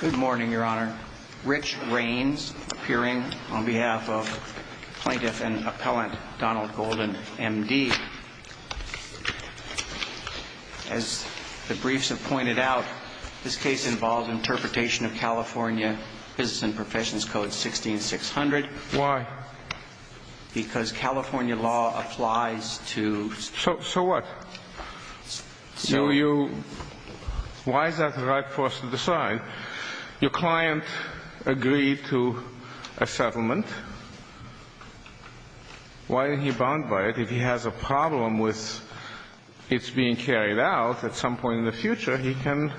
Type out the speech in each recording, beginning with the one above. Good morning, your honor. Rich Raines appearing on behalf of plaintiff and appellant Donald Golden, M.D. As the briefs have pointed out, this case involves interpretation of California Business and Professions Code 16600. Why? Because California law applies to... So what? So you... Why is that the right for us to decide? Your client agreed to a settlement. Why is he bound by it? If he has a problem with it being carried out, at some point in the future, he can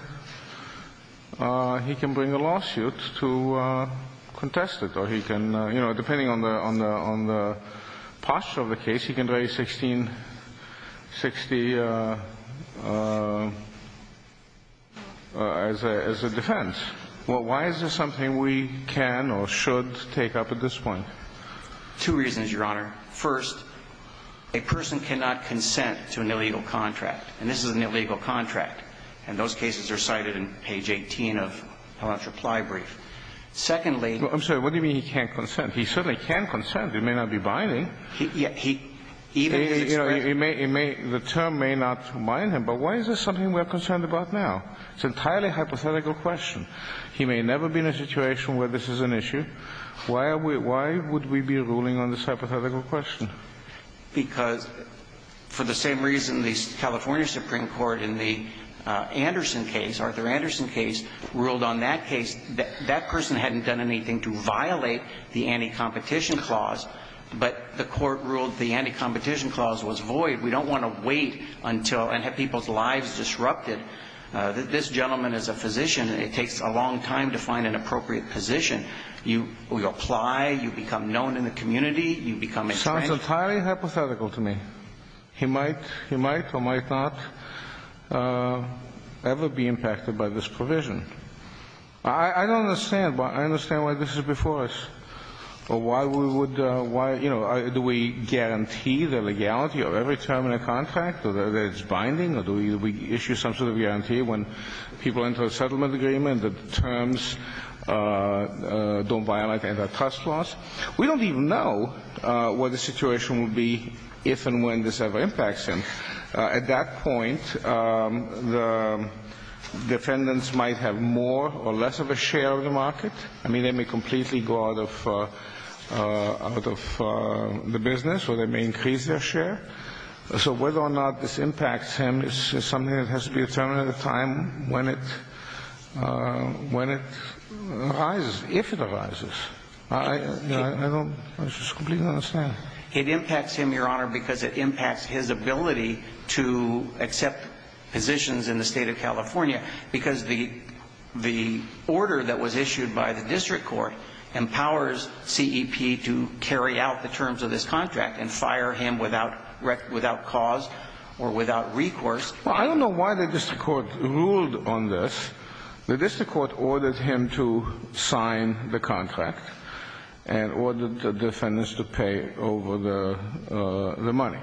bring a lawsuit to contest it. Or he can, you know, depending on the posture of the case, he can raise 1660 as a defense. Well, why is this something we can or should take up at this point? Two reasons, your honor. First, a person cannot consent to an illegal contract. And this is an illegal contract. And those cases are cited in page 18 of the reply brief. Secondly... I'm sorry, what do you mean he can't consent? He certainly can consent. He may not be binding. He may, the term may not bind him. But why is this something we're concerned about now? It's an entirely hypothetical question. He may never be in a situation where this is an issue. Why would we be ruling on this hypothetical question? Because for the same reason the California Supreme Court in the Anderson case, Arthur Anderson case, ruled on that case, that person hadn't done anything to violate the anti-competition clause. But the court ruled the anti-competition clause was void. We don't want to wait until and have people's lives disrupted. This gentleman is a physician. It takes a long time to find an appropriate position. You apply. You become known in the community. You become a friend. Sounds entirely hypothetical to me. He might or might not ever be impacted by this provision. I don't understand why this is before us. Or why we would, why, you know, do we guarantee the legality of every term in a contract? That it's binding? Or do we issue some sort of guarantee when people enter a settlement agreement that terms don't violate anti-trust laws? We don't even know what the situation will be if and when this ever impacts him. At that point, the defendants might have more or less of a share of the market. I mean, they may completely go out of the business or they may increase their share. So whether or not this impacts him is something that has to be determined at a time when it arises, if it arises. I don't completely understand. It impacts him, Your Honor, because it impacts his ability to accept positions in the state of California, because the order that was issued by the district court empowers CEP to carry out the terms of this contract and fire him without cause or without recourse. Well, I don't know why the district court ruled on this. The district court ordered him to sign the contract and ordered the defendants to pay over the money.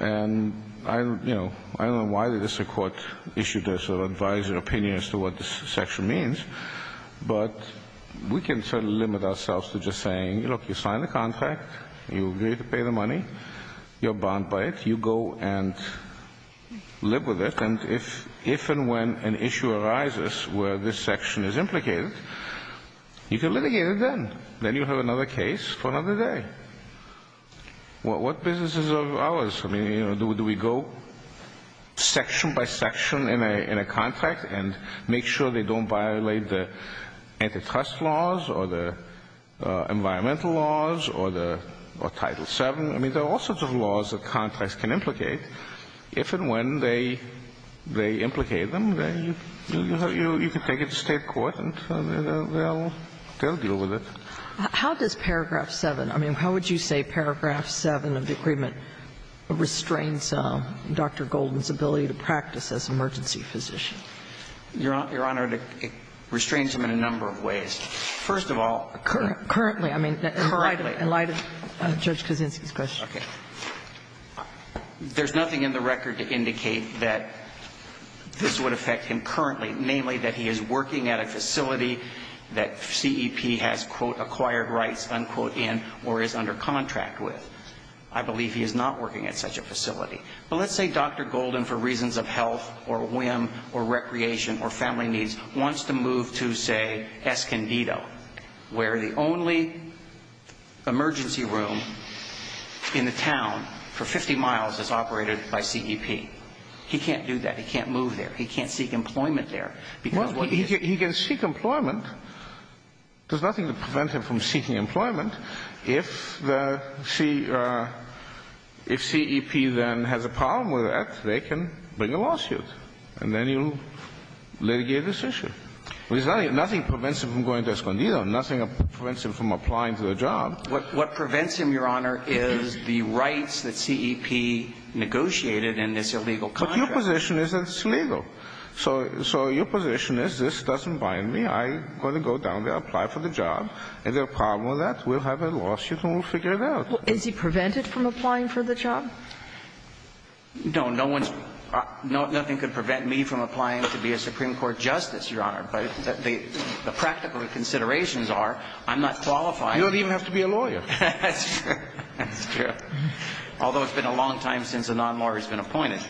And, you know, I don't know why the district court issued this or advised their opinion as to what this section means, but we can certainly limit ourselves to just saying, look, you signed the contract, you agreed to pay the money, you're bound by it, you go and live with it. And if and when an issue arises where this section is implicated, you can litigate it then. Then you have another case for another day. Well, what business is of ours? I mean, do we go section by section in a contract and make sure they don't violate the antitrust laws or the environmental laws or Title VII? I mean, there are all sorts of laws that contracts can implicate. If and when they implicate them, you can take it to state court and they'll deal with it. How does Paragraph 7, I mean, how would you say Paragraph 7 of the agreement restrains Dr. Golden's ability to practice as emergency physician? Your Honor, it restrains him in a number of ways. First of all, currently. Currently. I mean, in light of Judge Kaczynski's question. Okay. There's nothing in the record to indicate that this would affect him currently, namely that he is working at a facility that CEP has, quote, acquired rights, unquote, in or is under contract with. I believe he is not working at such a facility. But let's say Dr. Golden, for reasons of health or whim or recreation or family needs, wants to move to, say, Escondido, where the only emergency room in the town for 50 miles is operated by CEP. He can't do that. He can't move there. He can't seek employment there. He can seek employment. There's nothing to prevent him from seeking employment. If CEP then has a problem with that, they can bring a lawsuit. And then you litigate this issue. Nothing prevents him from going to Escondido. Nothing prevents him from applying for the job. What prevents him, Your Honor, is the rights that CEP negotiated in this illegal contract. Your position is that it's illegal. So your position is this doesn't bind me. I'm going to go down there, apply for the job. If there's a problem with that, we'll have a lawsuit and we'll figure it out. Well, is he prevented from applying for the job? No, no one's – nothing could prevent me from applying to be a Supreme Court justice, Your Honor. But the practical considerations are I'm not qualified. You don't even have to be a lawyer. That's true. That's true. Although it's been a long time since a non-lawyer's been appointed.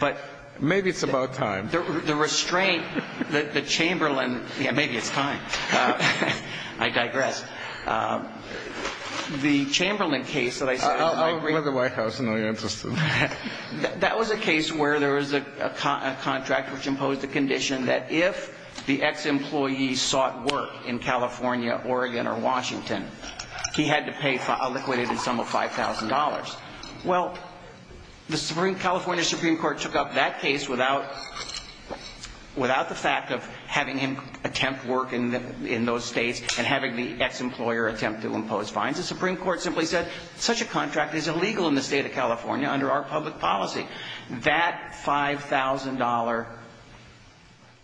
But – Maybe it's about time. The restraint, the Chamberlain – yeah, maybe it's time. I digress. The Chamberlain case that I said – I'll go to the White House and know you're interested. That was a case where there was a contract which imposed a condition that if the ex-employee sought work in California, Oregon, or Washington, he had to pay a liquidated sum of $5,000. Well, the California Supreme Court took up that case without – without the fact of having him attempt work in those states and having the ex-employer attempt to impose fines. The Supreme Court simply said such a contract is illegal in the state of California under our public policy. That $5,000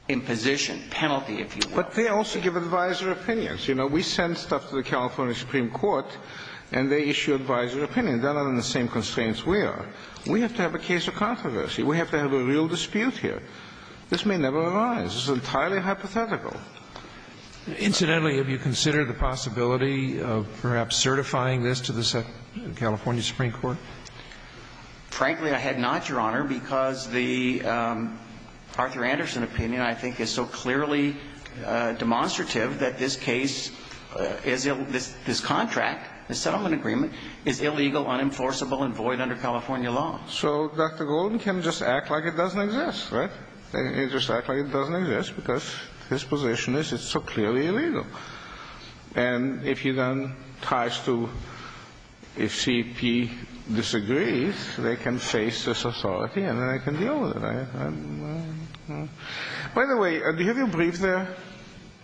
imposition – penalty, if you will – But they also give advisor opinions. You know, we send stuff to the California Supreme Court and they issue advisor opinions. They're not in the same constraints we are. We have to have a case of controversy. We have to have a real dispute here. This may never arise. It's entirely hypothetical. Incidentally, have you considered the possibility of perhaps certifying this to the California Supreme Court? Frankly, I have not, Your Honor, because the Arthur Anderson opinion, I think, is so clearly demonstrative that this case is – this contract, this settlement agreement, is illegal, unenforceable, and void under California law. So Dr. Golden can just act like it doesn't exist, right? He can just act like it doesn't exist because his position is it's so clearly illegal. And if he then ties to – if CEP disagrees, they can face this authority and then they can deal with it, right? By the way, do you have your brief there?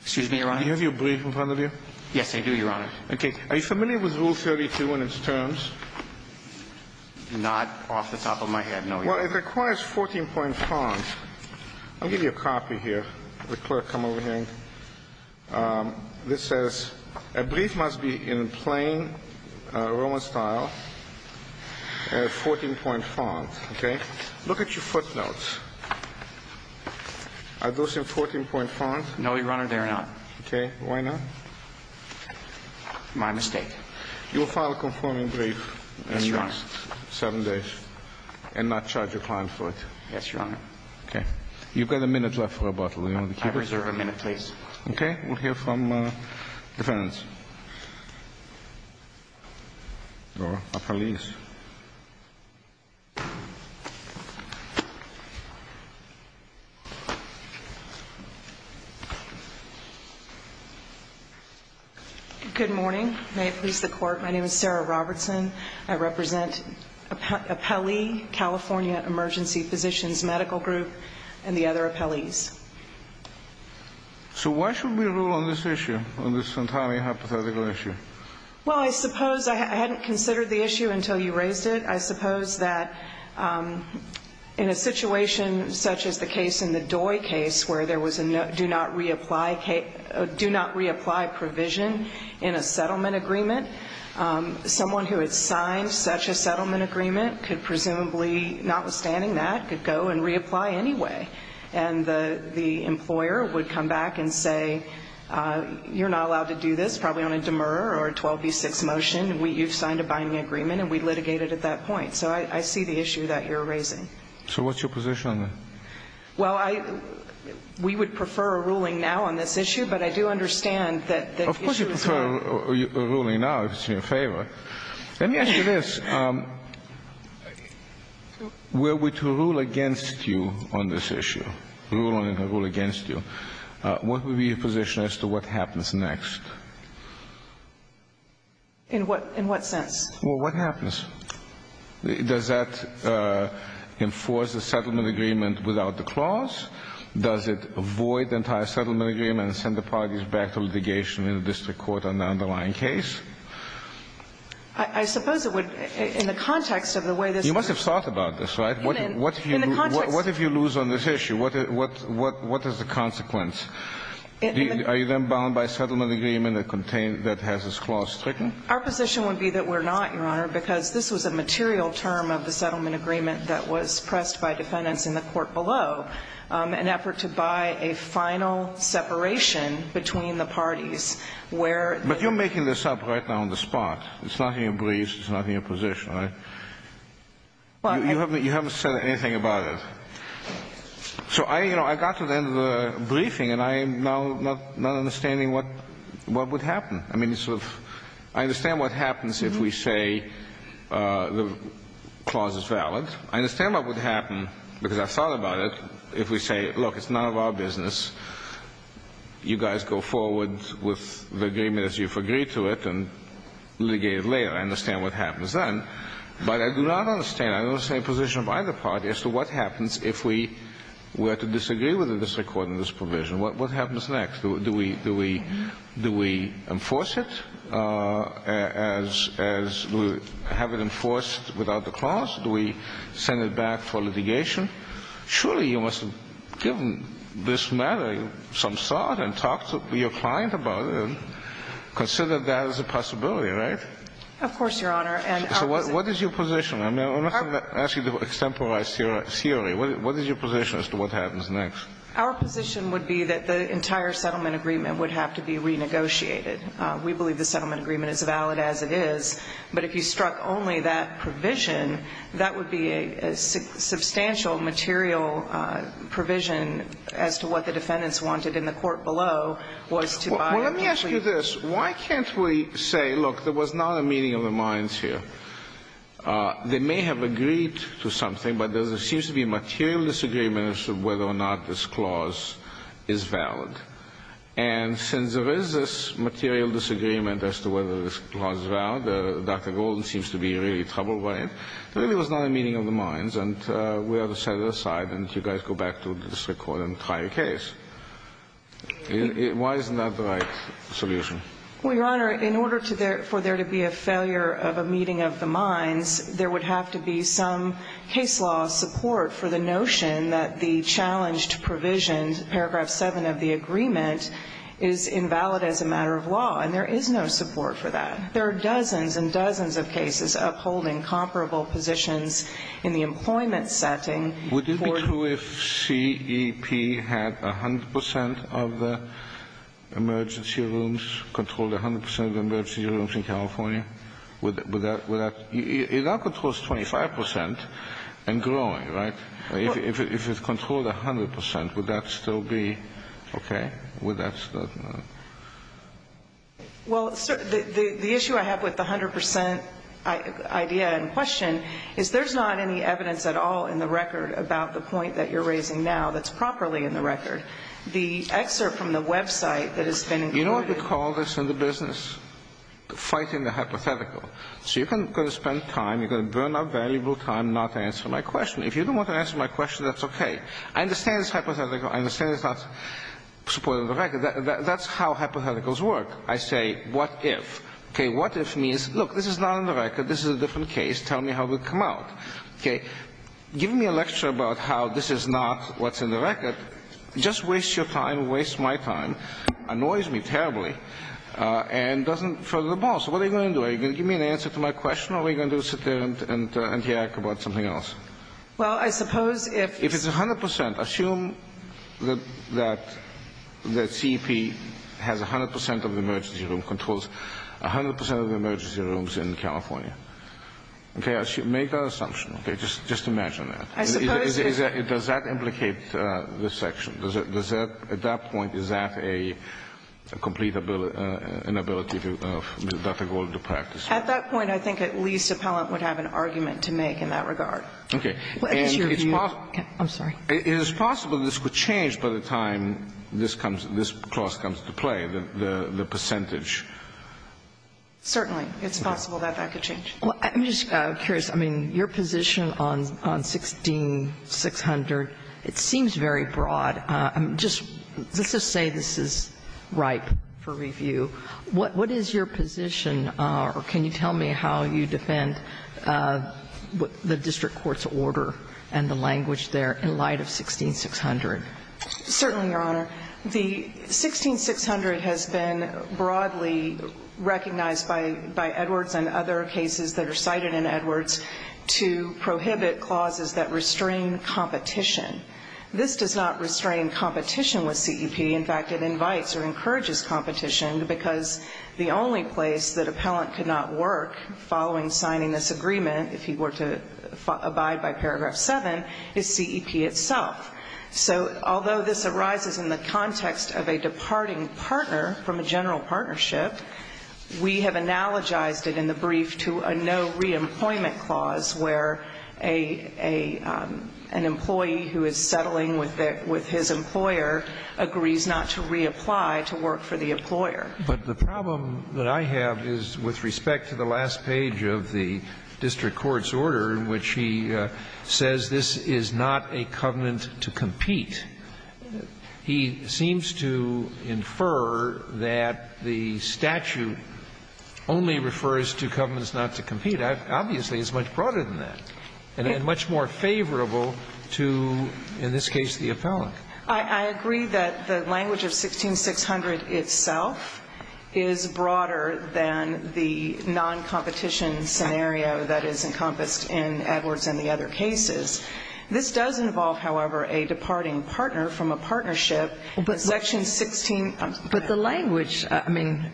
Excuse me, Your Honor? Do you have your brief in front of you? Yes, I do, Your Honor. Okay. Are you familiar with Rule 32 and its terms? Not off the top of my head, no, Your Honor. Well, it requires 14-point font. I'll give you a copy here. Let the clerk come over here. This says a brief must be in plain Roman style, 14-point font, okay? Look at your footnotes. Are those in 14-point font? No, Your Honor, they are not. Okay. Why not? My mistake. You will file a conforming brief in the next seven days and not charge a client for it? Yes, Your Honor. Okay. You've got a minute left for rebuttal. I reserve a minute, please. Okay. We'll hear from the defense. Or a police. Good morning. May it please the court, my name is Sarah Robertson. I represent Appellee California Emergency Physicians Medical Group and the other appellees. So why should we rule on this issue, on this entirely hypothetical issue? Well, I suppose I hadn't considered the issue I'm not a lawyer, I'm not an attorney, I'm not a lawyer, in a situation such as the case in the Doi case where there was a do not reapply provision in a settlement agreement, someone who had signed such a settlement agreement could presumably, notwithstanding that, could go and reapply anyway. And the employer would come back and say you're not allowed to do this, probably on a demurrer or a 12B6 motion, you've signed a binding agreement and we litigate it at that point. So I see the issue that you're raising. So what's your position on that? Well, we would prefer a ruling now on this issue, but I do understand that the issue is not... Of course you prefer a ruling now, if it's in your favor. Let me ask you this. Were we to rule against you on this issue, rule on it or rule against you, what would be your position as to what happens next? In what sense? Well, what happens? Does that enforce the settlement agreement without the clause? Does it void the entire settlement agreement and send the parties back to litigation in the district court on the underlying case? I suppose it would, in the context of the way this... You must have thought about this, right? In the context... What if you lose on this issue? What is the consequence? Are you then bound by a settlement agreement that has this clause stricken? Our position would be that we're not, Your Honor, because this was a material term of the settlement agreement that was pressed by defendants in the court below in an effort to buy a final separation between the parties where... But you're making this up right now on the spot. It's not in your briefs. It's not in your position, right? You haven't said anything about it. So I got to the end of the briefing and I am now not understanding what would happen. I understand what happens if we say the clause is valid. I understand what would happen, because I thought about it, if we say, look, it's none of our business. You guys go forward with the agreement as you've agreed to it and litigate it later. I understand what happens then. But I do not understand. I don't understand the position of either party as to what happens if we were to disagree with the district court on this provision. What happens next? Do we enforce it as we have it enforced without the clause? Do we send it back for litigation? Surely you must have given this matter some thought and talked to your client about it and considered that as a possibility, right? Of course, Your Honor. So what is your position? I'm not asking you to extemporize theory. What is your position as to what happens next? Our position would be that the entire settlement agreement would have to be renegotiated. We believe the settlement agreement is valid as it is, but if you struck only that provision, that would be a substantial material provision as to what the defendants wanted in the court below was to buy a plea. Well, let me ask you this. Why can't we say, look, there was not a meeting of the minds here. They may have agreed to something, but there seems to be a material disagreement as to whether or not this clause is valid. And since there is this material disagreement as to whether this clause is valid, Dr. Golden seems to be really troubled by it. There really was not a meeting of the minds and we ought to set it aside and you guys go back to the district court and try a case. Why isn't that the right solution? Well, Your Honor, in order for there to be a failure of a meeting of the minds, there would have to be some case law support for the notion that the challenged provision paragraph 7 of the agreement is invalid as a matter of law and there is no support for that. There are dozens and dozens of cases upholding comparable positions in the employment setting. Would it be true if CEP had 100% of the emergency rooms, controlled 100% of the emergency rooms in California would that that controls 25% and growing, right? If it's controlled 100% would that still be okay? Well, the issue I have with the 100% idea and question is there's not any evidence at all in the record about the point that you're raising now that's properly in the record. The excerpt from the website that has been included... You know what we call this in the business? Fighting the hypothetical. So you're going to spend time, you're going to burn up valuable time not to answer my question. If you don't want to answer my question, that's okay. I understand it's hypothetical. I understand it's not supported in the record. That's how hypotheticals work. I say, what if? What if means, look, this is not in the record. This is a different case. Tell me how it would come out. Give me a lecture about how this is not what's in the record. Just waste your time. Waste my time. Annoys me terribly. And doesn't further the ball. So what are you going to do? Are you going to give me an answer to my question or are you going to sit there and react about something else? Well, I suppose if... If it's 100%, assume that the CEP has 100% of the emergency room controls 100% of the emergency rooms in California. Make that assumption. Just imagine that. Does that implicate this section? At that point, is that a complete inability of Dr. Gold to practice? At that point, I think at least Appellant would have an argument to make in that regard. Is it possible this could change by the time this clause comes to play? The percentage? Certainly. It's possible that that could change. I'm just curious. Your position on 16-600, it seems very broad. Let's just say this is ripe for review. What is your position or can you tell me how you defend the district court's order and the language there in light of 16-600? Certainly, Your Honor. The 16-600 has been broadly recognized by Edwards and other cases that are cited in Edwards to prohibit clauses that restrain competition. This does not restrain competition with CEP. In fact, it invites or encourages competition because the only place that Appellant could not work following signing this agreement if he were to abide by paragraph 7 is CEP itself. Although this arises in the context of a departing partner from a general partnership, we have analogized it in the brief to a no-reemployment clause where an employee who is settling with his employer agrees not to reapply to work for the employer. But the problem that I have is with respect to the last page of the district court's order in which he says this is not a covenant to compete. He seems to infer that the statute only refers to covenants not to compete. Obviously, it's much broader than that and much more favorable to, in this case, the Appellant. I agree that the language of 16-600 itself is broader than the non-competition scenario that is encompassed in Edwards and the other cases. This does involve, however, a departing partner from a partnership in section 16. But the language,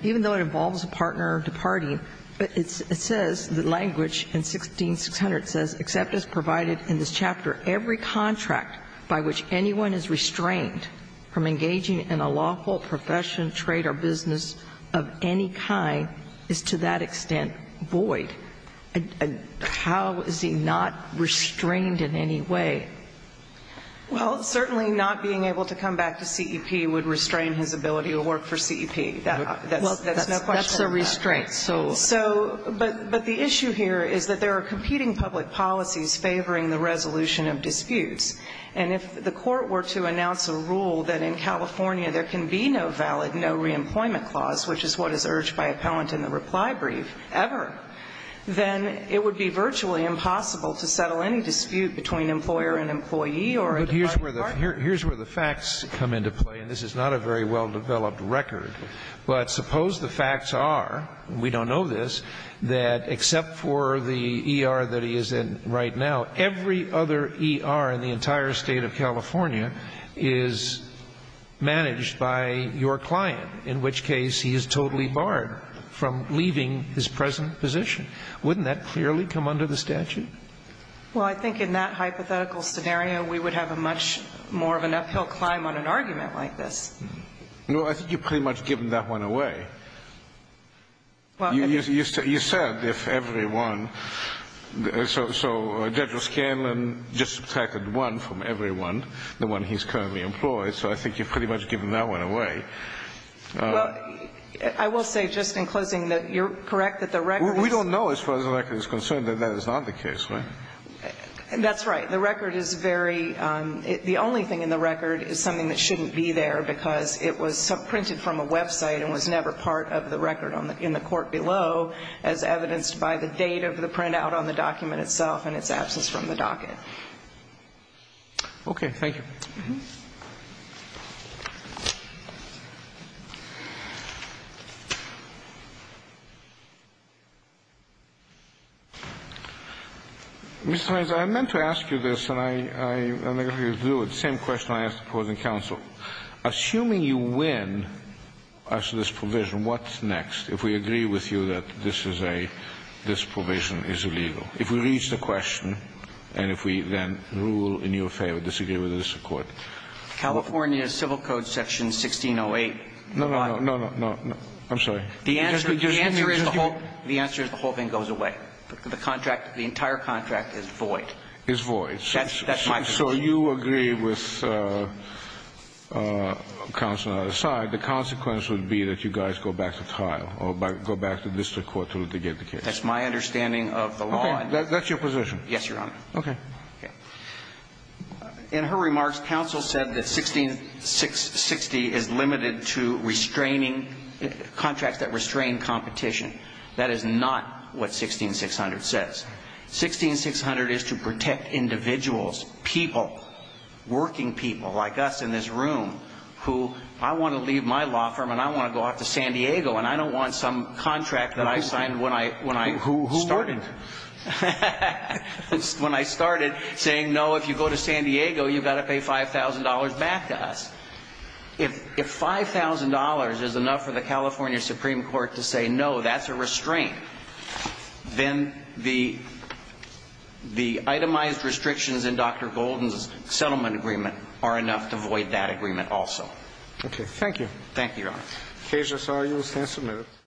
even though it involves a partner departing, it says, the language in 16-600 says, except as provided in this chapter, every contract by which anyone is restrained from engaging in a lawful profession, trade, or business of any kind is to that extent void. How is he not restrained in any way? Well, certainly not being able to come back to CEP would restrain his ability to work for CEP. That's a restraint. But the issue here is that there are competing public policies favoring the resolution of disputes. And if the Court were to announce a rule that in California there can be no valid no-reemployment clause, which is what is urged by Appellant in the reply brief ever, then it would be virtually impossible to settle any dispute between employer and employee or a departing partner. Here's where the facts come into play. And this is not a very well-developed record. But suppose the facts are we don't know this that except for the ER that he is in right now, every other ER in the entire state of California is managed by your client, in which case he is totally barred from leaving his present position. Wouldn't that clearly come under the statute? Well, I think in that hypothetical scenario we would have a much more of an uphill climb on an argument like this. No, I think you've pretty much given that one away. You said if everyone so Judge O'Scanlan just subtracted one from everyone the one he's currently employed so I think you've pretty much given that one away. Well, I will say just in closing that you're correct that the record is... We don't know as far as the record is concerned that that is not the case, right? That's right. The record is very The only thing in the record is something that shouldn't be there because it was printed from a website and was never part of the record in the court below as evidenced by the date of the printout on the document itself and its absence from the docket. Okay. Thank you. Mr. Meyers, I meant to do the same question I asked the opposing counsel. Assuming you win us this provision, what's next if we agree with you that this is a this provision is illegal? If we reach the question and if we then rule in your favor disagree with this record? California Civil Code Section 1608 No, no, no. I'm sorry. The answer is the whole thing goes away. The contract, the entire contract is void. So you agree with counsel on the other side the consequence would be that you guys go back to trial or go back to district court to get the case. That's my understanding of the law. That's your position. Okay. In her remarks, counsel said that 1660 is limited to restraining contracts that restrain competition. That is not what 16600 says. 16600 is to protect individuals, people working people like us in this room who I want to leave my law firm and I want to go off to San Diego and I don't want some contract that I signed when I started. When I started saying no, if you go to San Diego, you've got to pay $5,000 back to us. If $5,000 is enough for the California Supreme Court to say no, that's a restraint then the itemized restrictions in Dr. Golden's settlement agreement are enough to void that agreement also. Thank you. Thank you, Your Honor. Cases are used and submitted.